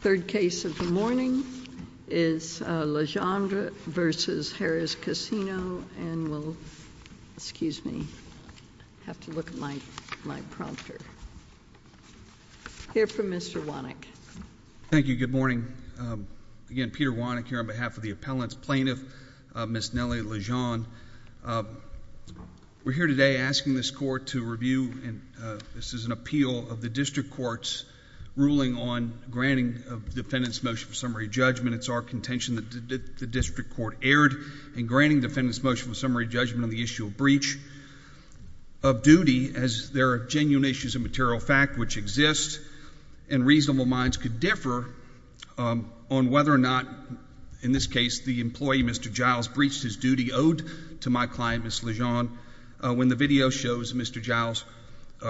Third case of the morning is Legendre v. Harrah's Casino and we'll excuse me have to look at my my prompter. Hear from Mr. Wannick. Thank you. Good morning. Again Peter Wannick here on behalf of the appellant's plaintiff Miss Nellie Legend. We're here today asking this court to review and this is an appeal of the district court's ruling on granting a defendant's motion for summary judgment. It's our contention that the district court erred in granting defendant's motion for summary judgment on the issue of breach of duty as there are genuine issues of material fact which exist and reasonable minds could differ on whether or not in this case the employee Mr. Giles breached his duty owed to my client Miss Legend when the video shows Mr. Giles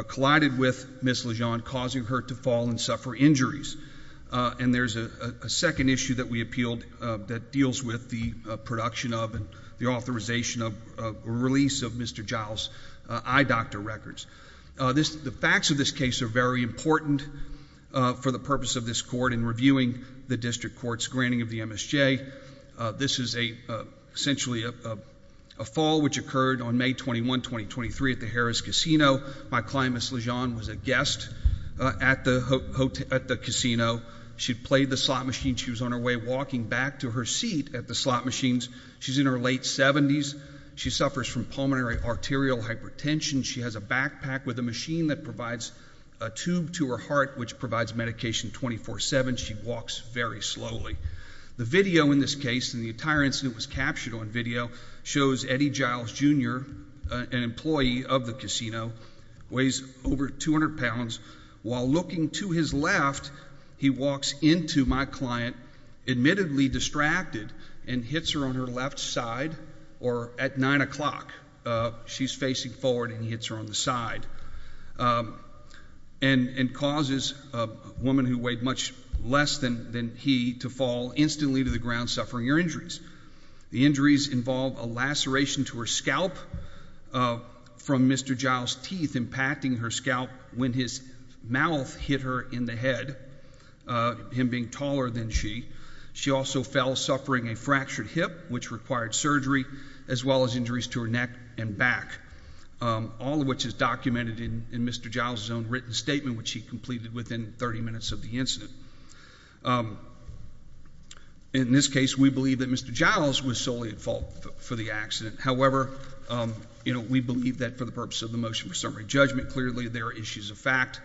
collided with Miss Legend causing her to fall and suffer injuries and there's a second issue that we appealed that deals with the production of and the authorization of release of Mr. Giles eye doctor records. The facts of this case are very important for the purpose of this court in reviewing the district court's granting of the MSJ. This is a essentially a fall which occurred on May 21, 2023 at the Harrah's Casino. My client Miss Legend was a guest at the casino. She played the slot machine. She was on her way walking back to her seat at the slot machines. She's in her late 70s. She suffers from pulmonary arterial hypertension. She has a backpack with a machine that provides a tube to her heart which provides medication 24-7. She walks very slowly. The video in this case and the entire incident was captured on video shows Eddie Giles Jr., an employee of the casino, weighs over 200 pounds while looking to his left he walks into my client admittedly distracted and hits her on her left side or at nine o'clock. She's facing forward and he hits her on the side and causes a woman who weighed much less than than he to fall instantly to the ground suffering her injuries. The teeth impacting her scalp when his mouth hit her in the head him being taller than she she also fell suffering a fractured hip which required surgery as well as injuries to her neck and back all of which is documented in Mr. Giles his own written statement which he completed within 30 minutes of the incident. In this case we believe that Mr. Giles was solely at fault for the summary judgment. Clearly there are issues of fact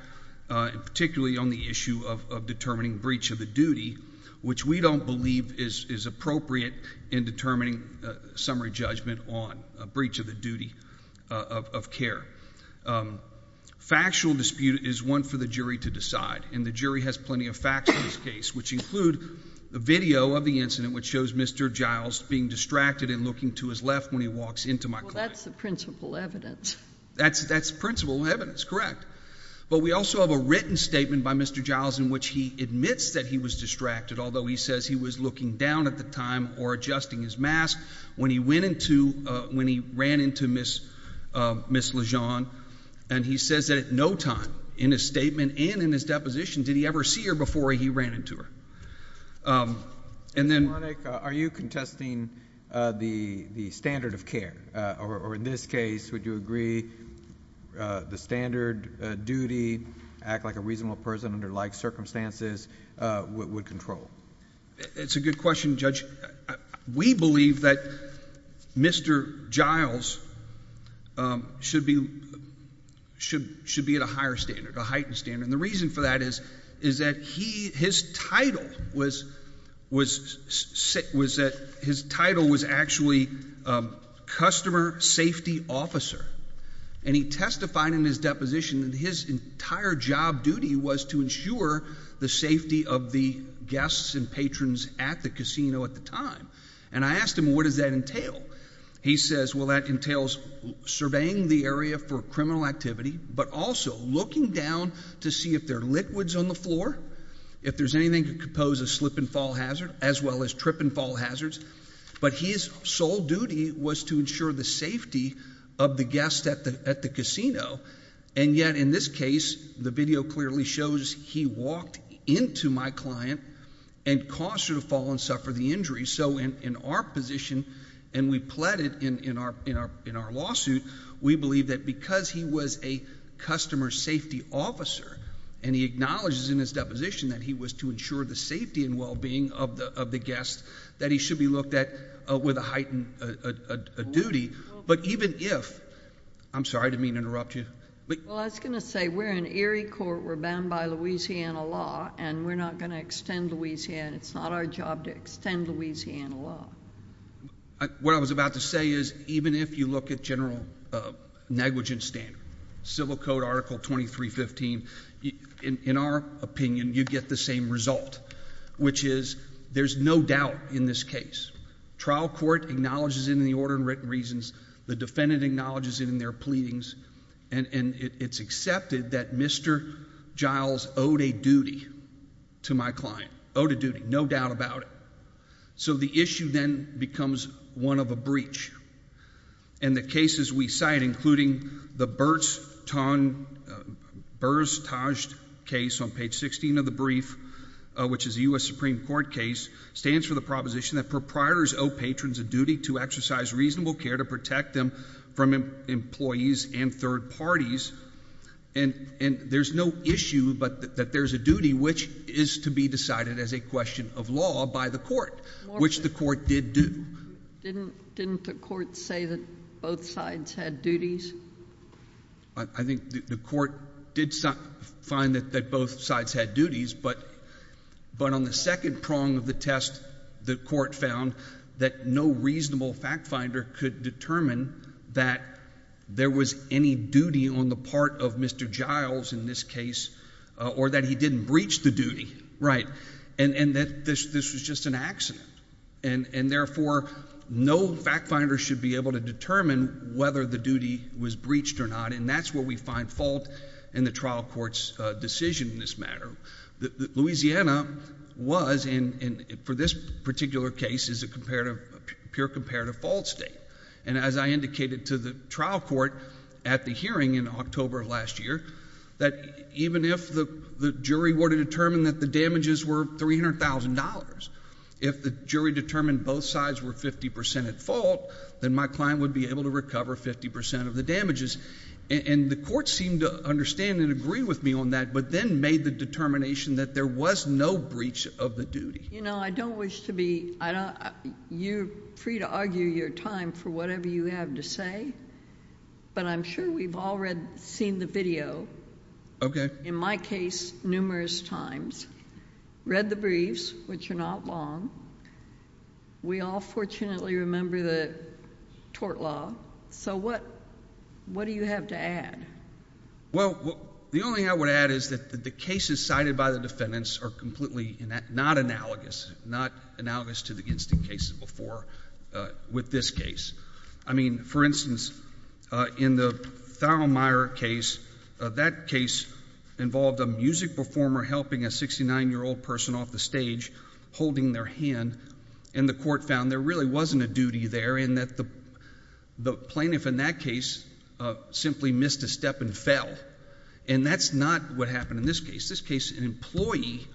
and particularly on the issue of determining breach of the duty which we don't believe is appropriate in determining summary judgment on a breach of the duty of care. Factual dispute is one for the jury to decide and the jury has plenty of facts in this case which include the video of the incident which shows Mr. Giles being distracted and looking to his left when he walks into my client. That's the principal evidence. That's that's principal evidence correct but we also have a written statement by Mr. Giles in which he admits that he was distracted although he says he was looking down at the time or adjusting his mask when he went into when he ran into miss miss Lejeune and he says that at no time in his statement and in his deposition did he ever see her before he ran into her and then are you contesting the the standard of care or in this case would you agree the standard duty act like a reasonable person under like circumstances what would control it's a good question judge we believe that mr. Giles should be should should be at a higher standard a heightened standard the reason for that is is that he his title was was sick was that his title was actually customer safety officer and he testified in his deposition that his entire job duty was to ensure the safety of the guests and patrons at the casino at the time and I asked him what does that entail he says well that entails surveying the area for criminal activity but also looking down to see if they're liquids on the floor if there's anything could compose a slip-and-fall hazard as well as trip and fall hazards but his sole duty was to ensure the safety of the guests at the at the casino and yet in this case the video clearly shows he walked into my client and caused her to fall and suffer the injury so in our position and we pled it in in our in our in our lawsuit we believe that because he was a customer safety officer and he acknowledges in his deposition that he was to ensure the safety and well-being of the of the guests that he should be looked at with a heightened duty but even if I'm sorry to mean interrupt you but I was gonna say we're in Erie Court we're bound by Louisiana law and we're not gonna extend Louisiana it's not our job to extend Louisiana law what I was about to say is even if you look at general negligence standard civil code article 2315 in our opinion you get the same result which is there's no doubt in this case trial court acknowledges in the order and written reasons the defendant acknowledges in their pleadings and it's accepted that mr. Giles owed a duty to my client owed a duty no doubt about it so the issue then becomes one of a bunch and the cases we cite including the Burt's ton burstaged case on page 16 of the brief which is the US Supreme Court case stands for the proposition that proprietors owe patrons a duty to exercise reasonable care to protect them from employees and third parties and and there's no issue but that there's a duty which is to be decided as a question of law by the court which the did do didn't didn't the court say that both sides had duties I think the court did some find that that both sides had duties but but on the second prong of the test the court found that no reasonable fact-finder could determine that there was any duty on the part of mr. Giles in this case or that he didn't breach the duty right and and that this this was just an accident and and therefore no fact-finder should be able to determine whether the duty was breached or not and that's where we find fault in the trial courts decision in this matter that Louisiana was in for this particular case is a comparative pure comparative fault state and as I indicated to the trial court at the in October last year that even if the jury were to determine that the damages were $300,000 if the jury determined both sides were 50% at fault then my client would be able to recover 50% of the damages and the court seemed to understand and agree with me on that but then made the determination that there was no breach of the duty you know I don't wish to be I don't you free to argue your time for whatever you have to say but I'm sure we've all read seen the video okay in my case numerous times read the briefs which are not long we all fortunately remember the tort law so what what do you have to add well the only thing I would add is that the cases cited by the defendants are completely not analogous not analogous to the instant cases before with this case I mean for instance in the Thelma Meyer case that case involved a music performer helping a 69 year old person off the stage holding their hand and the court found there really wasn't a duty there in that the the plaintiff in that case simply missed a step and fell and that's not what happened in this case this case an employee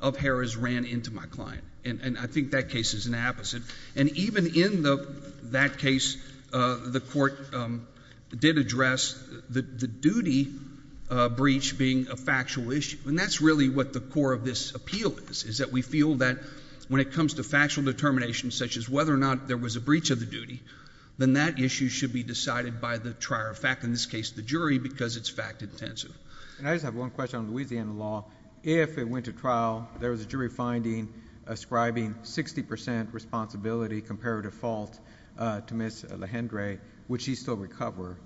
of Harrah's ran into my client and I think that case is an apposite and even in the that case the court did address the duty breach being a factual issue and that's really what the core of this appeal is is that we feel that when it comes to factual determination such as whether or not there was a breach of the duty then that issue should be decided by the trier of fact in this case the jury because it's fact-intensive and I just have one question on Louisiana law if it went to trial there was a jury finding ascribing 60% responsibility comparative fault to miss Lehendre would she still recover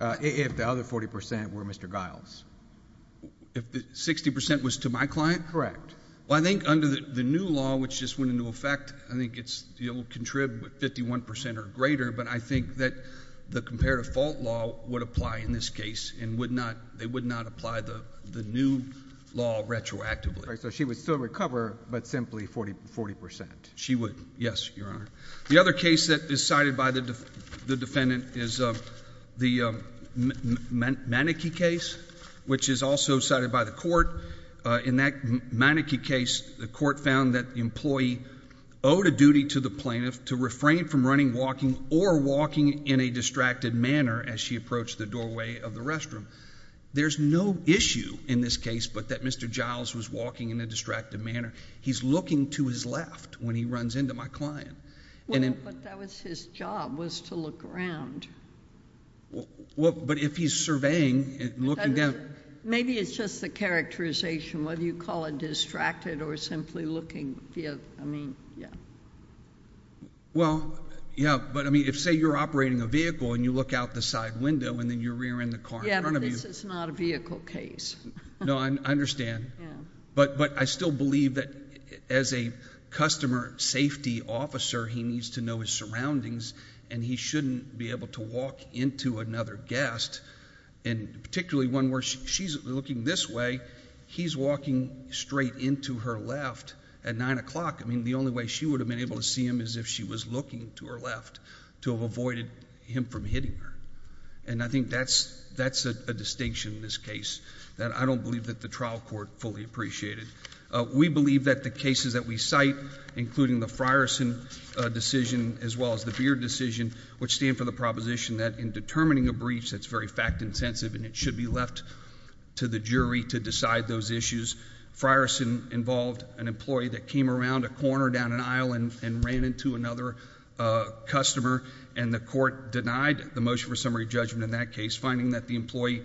if the other 40% were mr. Giles if the 60% was to my client correct well I think under the new law which just went into effect I think it's you know contribute 51% or greater but I think that the comparative fault law would apply in this case and would not they would not apply the the new law retroactively so she would still recover but simply 40 40% she would yes your honor the other case that is cited by the defendant is the mannequin case which is also cited by the court in that mannequin case the court found that the employee owed a duty to the plaintiff to refrain from running walking or walking in a distracted manner as she approached the doorway of the restroom there's no issue in this case but that mr. Giles was walking in a distracted manner he's looking to his left when he runs into my client well but that was his job was to look around well but if he's surveying and looking down maybe it's just the characterization whether you call it distracted or simply looking yeah I mean yeah well yeah but I mean if say you're operating a vehicle and you look out the side window and then you rear end the car yeah this is not a vehicle case no I understand but but I still believe that as a customer safety officer he needs to know his surroundings and he shouldn't be able to walk into another guest and particularly one where she's looking this way he's walking straight into her left at nine o'clock I mean the only way she would have been able to see him as if she was looking to her left to have avoided him from hitting her and I think that's that's a distinction in this case that I don't believe that the trial court fully appreciated we believe that the cases that we cite including the Frierson decision as well as the beer decision which stand for the proposition that in determining a breach that's very fact-intensive and it should be left to the jury to decide those issues Frierson involved an employee that came around a corner down an aisle and ran into another customer and the court denied the motion for summary judgment in that case finding that the employee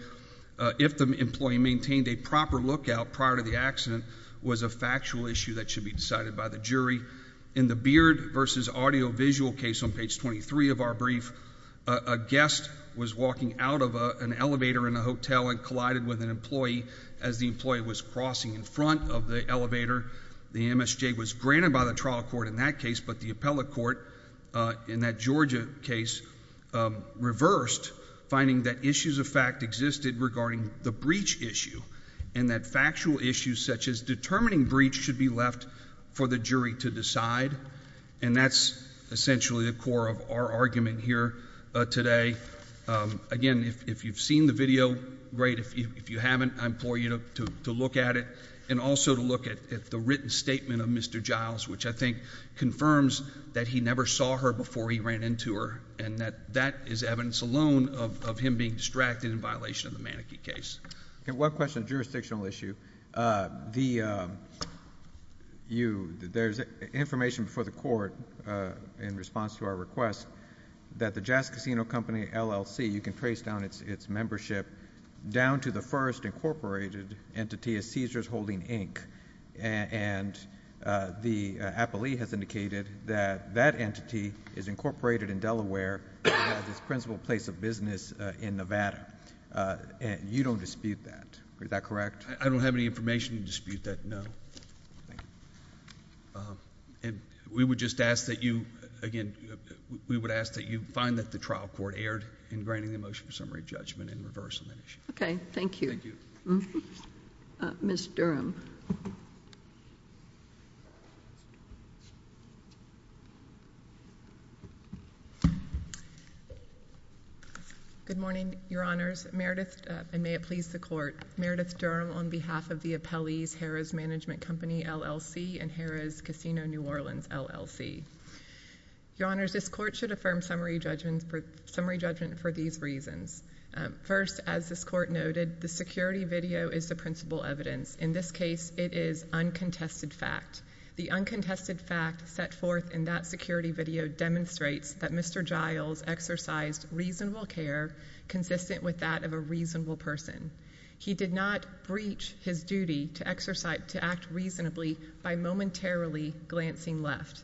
if the employee maintained a proper lookout prior to the accident was a factual issue that should be decided by the jury in the beard versus audio visual case on page 23 of our brief a guest was walking out of an elevator in a hotel and collided with an employee as the employee was crossing in front of the elevator the MSJ was granted by the trial court in that case but the appellate court in that Georgia case reversed finding that issues of fact existed regarding the breach issue and that factual issues such as determining breach should be left for the jury to decide and that's essentially the core of our argument here today again if you've seen the video great if you haven't I'm for you to look at it and also to look at the written statement of mr. Giles which I think confirms that he never saw her before he ran into her and that that is evidence alone of him being distracted in violation of the mannequin case and one question jurisdictional issue the you there's information for the court in response to our request that the jazz casino company LLC you can trace down its its membership down to the first incorporated entity is seizures holding ink and the appellee has indicated that that entity is incorporated in Delaware this principal place of business in Nevada and you don't dispute that is that correct I don't have any information to dispute that no and we would just ask that you again we would ask that you find that the trial court aired in granting the motion for summary judgment in reverse on that issue okay thank you thank you miss Durham good morning your honors Meredith and may it please the court Meredith Durham on behalf of the appellees Harrah's management company LLC and Harrah's casino New Orleans LLC your honors this court should affirm summary judgments for summary judgment for these reasons first as this court noted the security video is the principal evidence in this case it is uncontested fact the uncontested fact set forth in that security video demonstrates that mr. Giles exercised reasonable care consistent with that of a reasonable person he did not breach his duty to exercise to act reasonably by momentarily glancing left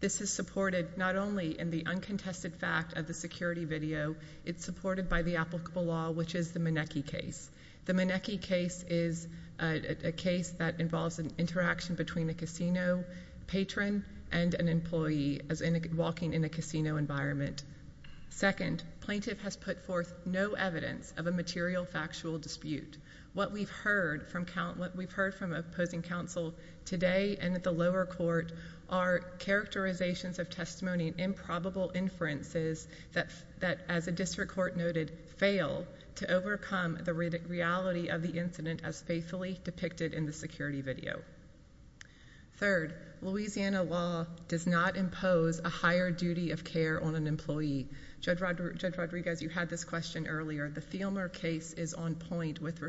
this is supported not only in the uncontested fact of the security video it's supported by the applicable law which is the Manecki case the Manecki case is a case that involves an interaction between a casino patron and an employee as in walking in a casino environment second plaintiff has put forth no evidence of a material factual dispute what we've heard from count what we've heard from opposing counsel today and at the lower court are characterizations of testimony improbable inferences that that as a district court noted fail to overcome the reality of the incident as faithfully depicted in the security video third Louisiana law does not impose a higher duty of care on an employee judge Rodriguez you had this question earlier the Thielmer case is on point with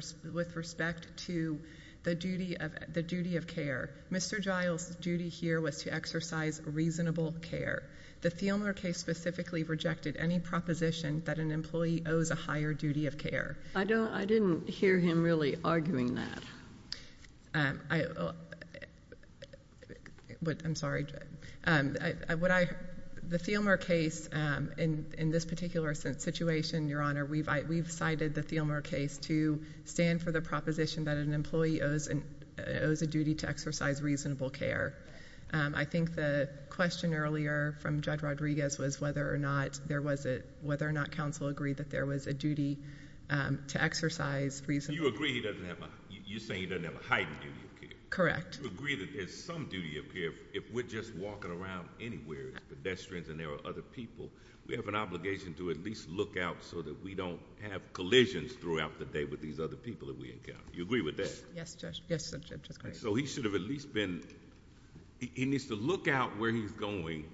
respect to the duty of the duty of care mr. Giles duty here was to exercise reasonable care the Thielmer case specifically rejected any proposition that an employee owes a higher duty of care I don't I didn't hear him really arguing that I what I'm sorry and I would I the Thielmer case in in this particular situation your honor we've I we've cited the Thielmer case to stand for the proposition that an employee owes and owes a duty to exercise reasonable care I think the question earlier from judge Rodriguez was whether or not there was it whether or not counsel agreed that there was a duty to exercise reason you agree he doesn't have a you say he doesn't have a heightened correct agree that there's some duty of care if we're just walking around anywhere pedestrians and there are other people we have an obligation to at least look out so that we don't have collisions throughout the day with these other people that we encounter you agree with this yes so he should have at least been he needs to look out where he's going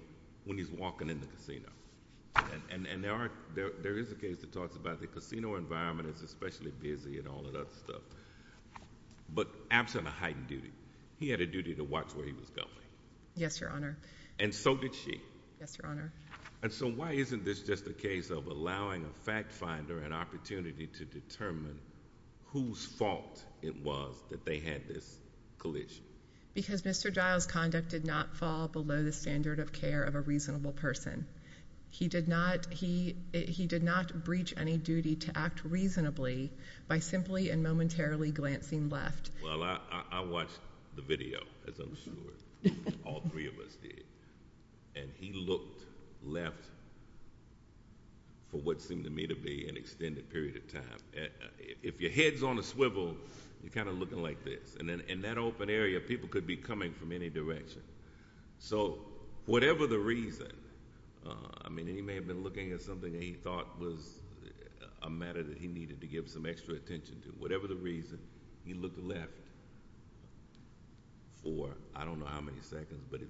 when he's walking in the casino and and and there are there is a case that talks about the casino environment is especially busy and all but absent a heightened duty he had a duty to watch where he was going yes your honor and so did she yes your honor and so why isn't this just a case of allowing a fact finder an opportunity to determine whose fault it was that they had this collision because mr. Giles conduct did not fall below the standard of care of a reasonable person he did not he he did not breach any duty to act reasonably by simply and momentarily glancing left well I I watched the video as I'm sure all three of us did and he looked left for what seemed to me to be an extended period of time if your head's on a swivel you're kind of looking like this and then in that open area people could be coming from any direction so whatever the reason I mean he may have been looking at something he thought was a matter that he needed to give some extra attention to whatever the reason he looked left for I don't know how many seconds but it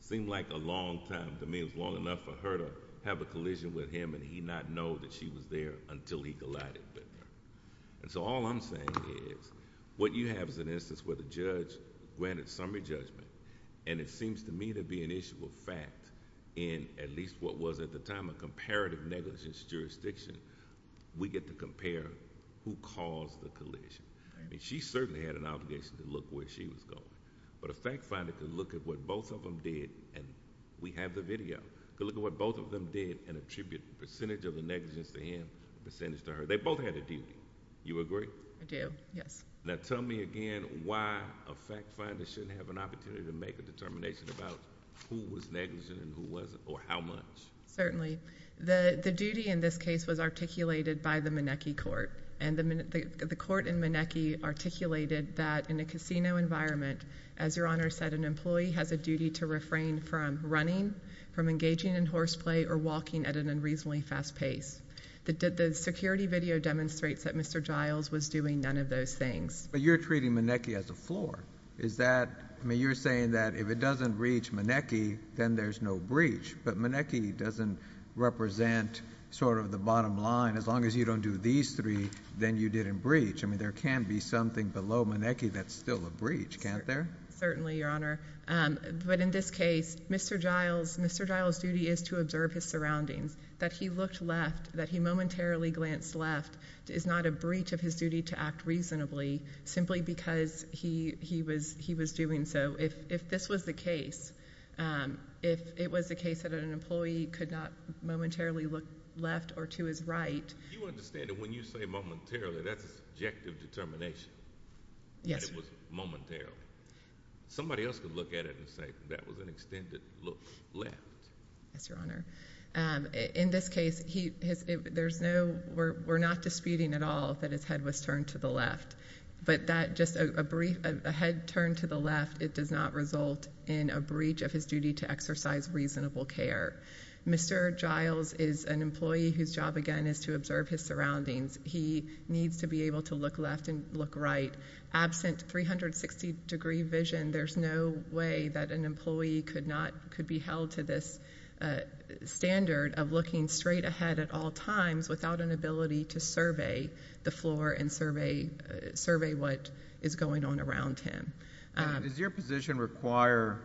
seemed like a long time to me it was long enough for her to have a collision with him and he not know that she was there until he collided with her and so all I'm saying is what you have is an instance where the judge granted summary judgment and it seems to me to be an issue of fact in at least what was at the time a comparative negligence jurisdiction we get to compare who caused the collision and she certainly had an obligation to look where she was going but a fact finder could look at what both of them did and we have the video look at what both of them did and attribute percentage of the negligence to him percentage to her they both had a duty you agree I do yes now tell me again why a fact finder shouldn't have an opportunity to make a determination about who was negligent and who wasn't or how much certainly the the duty in this case was articulated by the Maneki court and the minute the court in Maneki articulated that in a casino environment as your honor said an employee has a duty to refrain from running from engaging in horseplay or walking at an unreasonably fast pace that did the security video demonstrates that mr. Giles was doing none of those things but you're treating Maneki as a is that I mean you're saying that if it doesn't reach Maneki then there's no breach but Maneki doesn't represent sort of the bottom line as long as you don't do these three then you didn't breach I mean there can be something below Maneki that's still a breach can't there certainly your honor but in this case mr. Giles mr. Giles duty is to observe his surroundings that he looked left that he momentarily glanced left is not a breach of his duty to act reasonably simply because he he was he was doing so if this was the case if it was the case that an employee could not momentarily look left or to his right you understand that when you say momentarily that's a subjective determination yes momentarily somebody else could look at it and say that was an extended look left that's your honor in this case he there's no we're not disputing at all that his head was turned to the left but that just a brief a head turned to the left it does not result in a breach of his duty to exercise reasonable care mr. Giles is an employee whose job again is to observe his surroundings he needs to be able to look left and look right absent 360 degree vision there's no way that an employee could not could be held to this standard of looking straight ahead at all times without an ability to survey the floor and survey survey what is going on around him is your position require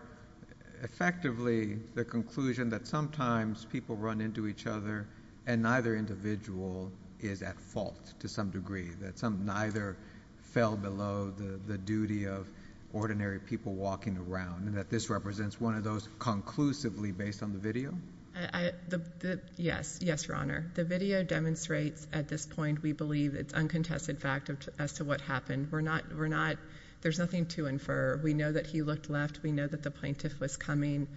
effectively the conclusion that sometimes people run into each other and neither individual is at fault to some degree that some neither fell below the duty of ordinary people walking around and that this represents one of those conclusively based on the video yes yes your honor the video demonstrates at this point we believe it's uncontested fact as to what happened we're not we're not there's nothing to infer we know that he looked left we know that the plaintiff was coming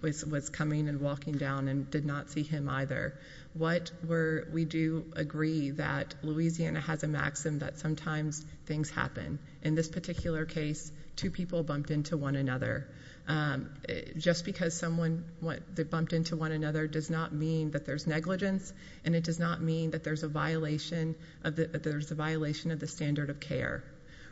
which was coming and walking down and did not see him either what were we do agree that Louisiana has a maxim that sometimes things happen in this particular case two people bumped into one another just because someone what they bumped into one another does not mean that there's negligence and it does not mean that there's a violation of the there's a violation of the standard of care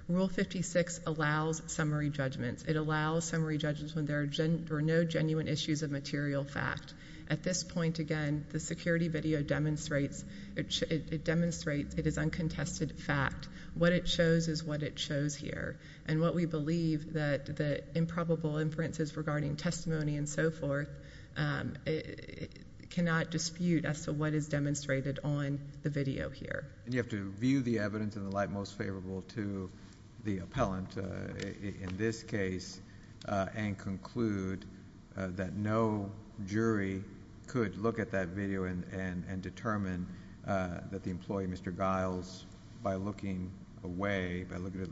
rule 56 allows summary judgments it allows summary judgments when there are no genuine issues of material fact at this point again the security video demonstrates it should demonstrate it is uncontested fact what it shows is what it shows here and what we believe that the improbable inferences regarding testimony and so forth it cannot dispute as to what is demonstrated on the video here and you have to view the evidence in the light most favorable to the appellant in this case and conclude that no jury could look at that video and determine that the employee mr. Giles by looking away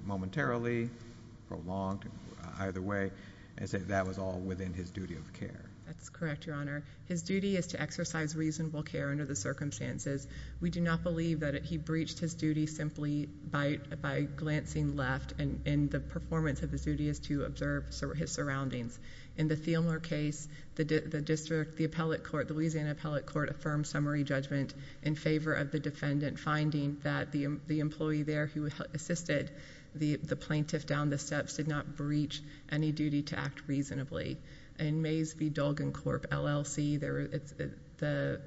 momentarily prolonged either way and say that was all within his duty of care that's correct your honor his duty is to exercise reasonable care under the circumstances we do not believe that he breached his duty simply by by glancing left and in the performance of the duty is to observe his surroundings in the Thielmer case the district the appellate court the Louisiana appellate court affirmed summary judgment in favor of the defendant finding that the employee there who assisted the the plaintiff down the steps did not breach any duty to act reasonably and Mays v. Dolgan Corp LLC there it's the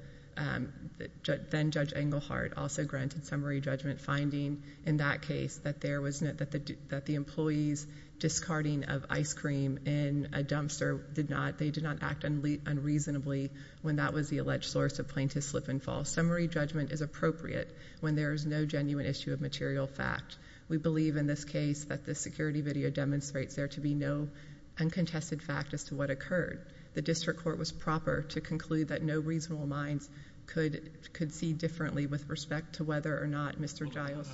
judge then judge Engelhardt also granted summary judgment finding in that case that there was not that the that the employees discarding of ice cream in a dumpster did not they act and leave unreasonably when that was the alleged source of plaintiff slip-and-fall summary judgment is appropriate when there is no genuine issue of material fact we believe in this case that the security video demonstrates there to be no uncontested fact as to what occurred the district court was proper to conclude that no reasonable minds could could see with respect to whether or not mr. Giles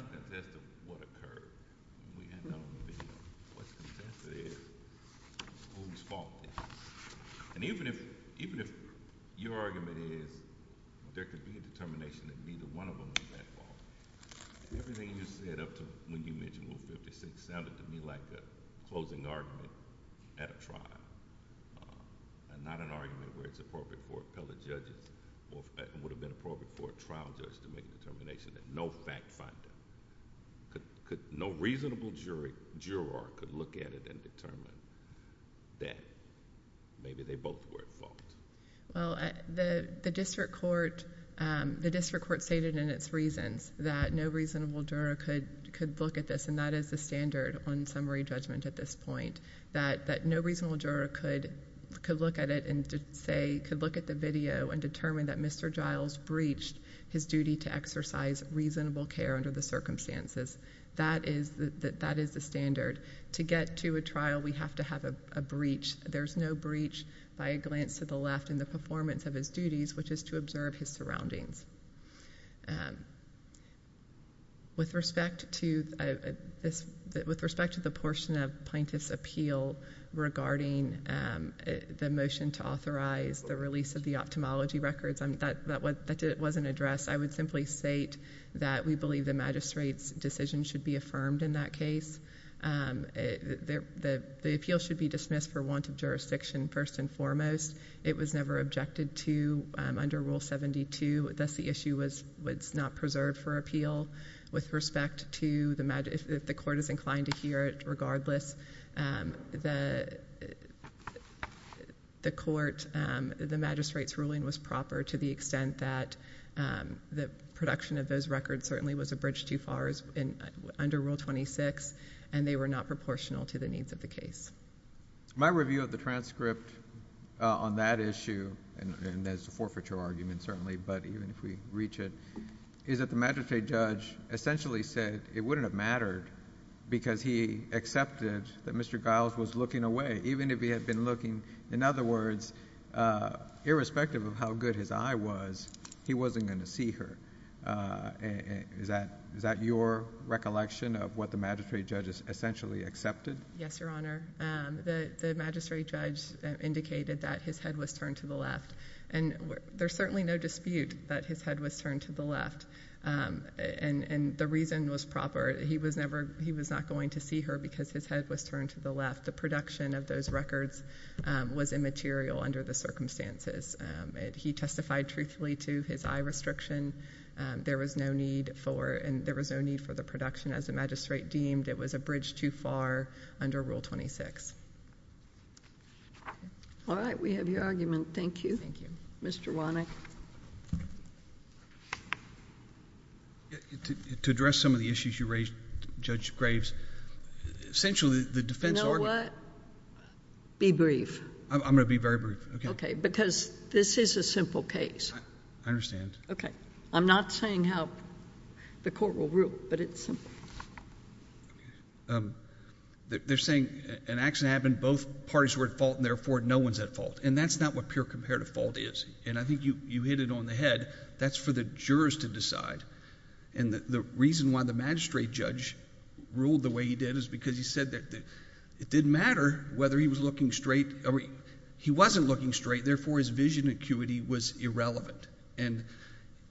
no fact-finding could no reasonable jury juror could look at it and determine that maybe they both were at fault well the the district court the district court stated in its reasons that no reasonable juror could could look at this and that is the standard on summary judgment at this point that that no reasonable juror could could look at it and say could look at the video and determine that mr. Giles breached his duty to exercise reasonable care under the circumstances that is that that is the standard to get to a trial we have to have a breach there's no breach by a glance to the left in the performance of his duties which is to observe his surroundings with respect to this with respect to the portion of plaintiffs appeal regarding the motion to authorize the release of the ophthalmology records and that that what that it wasn't addressed I would simply state that we believe the magistrates decision should be affirmed in that case the appeal should be dismissed for want of jurisdiction first and foremost it was never objected to under rule 72 thus the issue was what's not preserved for appeal with respect to the matter if the court is inclined to hear it regardless the the court the magistrates ruling was proper to the extent that the production of those records certainly was a bridge too far as in under rule 26 and they were not proportional to the needs of the case my review of the transcript on that issue and as a forfeiture argument certainly but even if we reach it is that the magistrate judge essentially said it wouldn't have mattered because he accepted that mr. Giles was looking away even if he had been looking in other words irrespective of how good his eye was he wasn't going to see her is that is that your recollection of what the magistrate judges essentially accepted yes your honor the magistrate judge indicated that his head was turned to the left and there's certainly no dispute that his head was turned to the left and and the reason was proper he was never he was not going to see her because his head was turned to the left the production of those records was immaterial under the circumstances he testified truthfully to his eye restriction there was no need for and there was no need for the production as a magistrate deemed it was a bridge too far under rule 26 all right we have your argument thank you thank you mr. wanek to address some of the issues you raised judge graves essentially the defense or what be brief I'm gonna be very brief okay because this is a simple case I understand okay I'm not saying how the court will rule but it's they're saying an accident happened both parties were at fault and therefore no one's at fault and that's not what pure comparative fault is and I think you you hit it on the head that's for the jurors to decide and the reason why the magistrate judge ruled the way he did is because he said that it didn't matter whether he was looking straight or he wasn't looking straight therefore his vision acuity was irrelevant and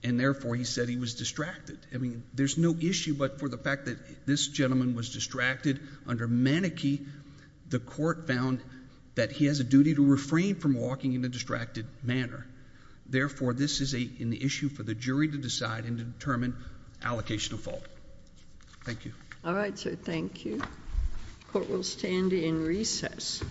and therefore he said he was distracted I mean there's no issue but for the fact that this gentleman was distracted under maniche the court found that he has a duty to refrain from walking in a distracted manner therefore this is a in the issue for the jury to decide and to determine allocation of fault thank you all right sir thank you court will stand in recess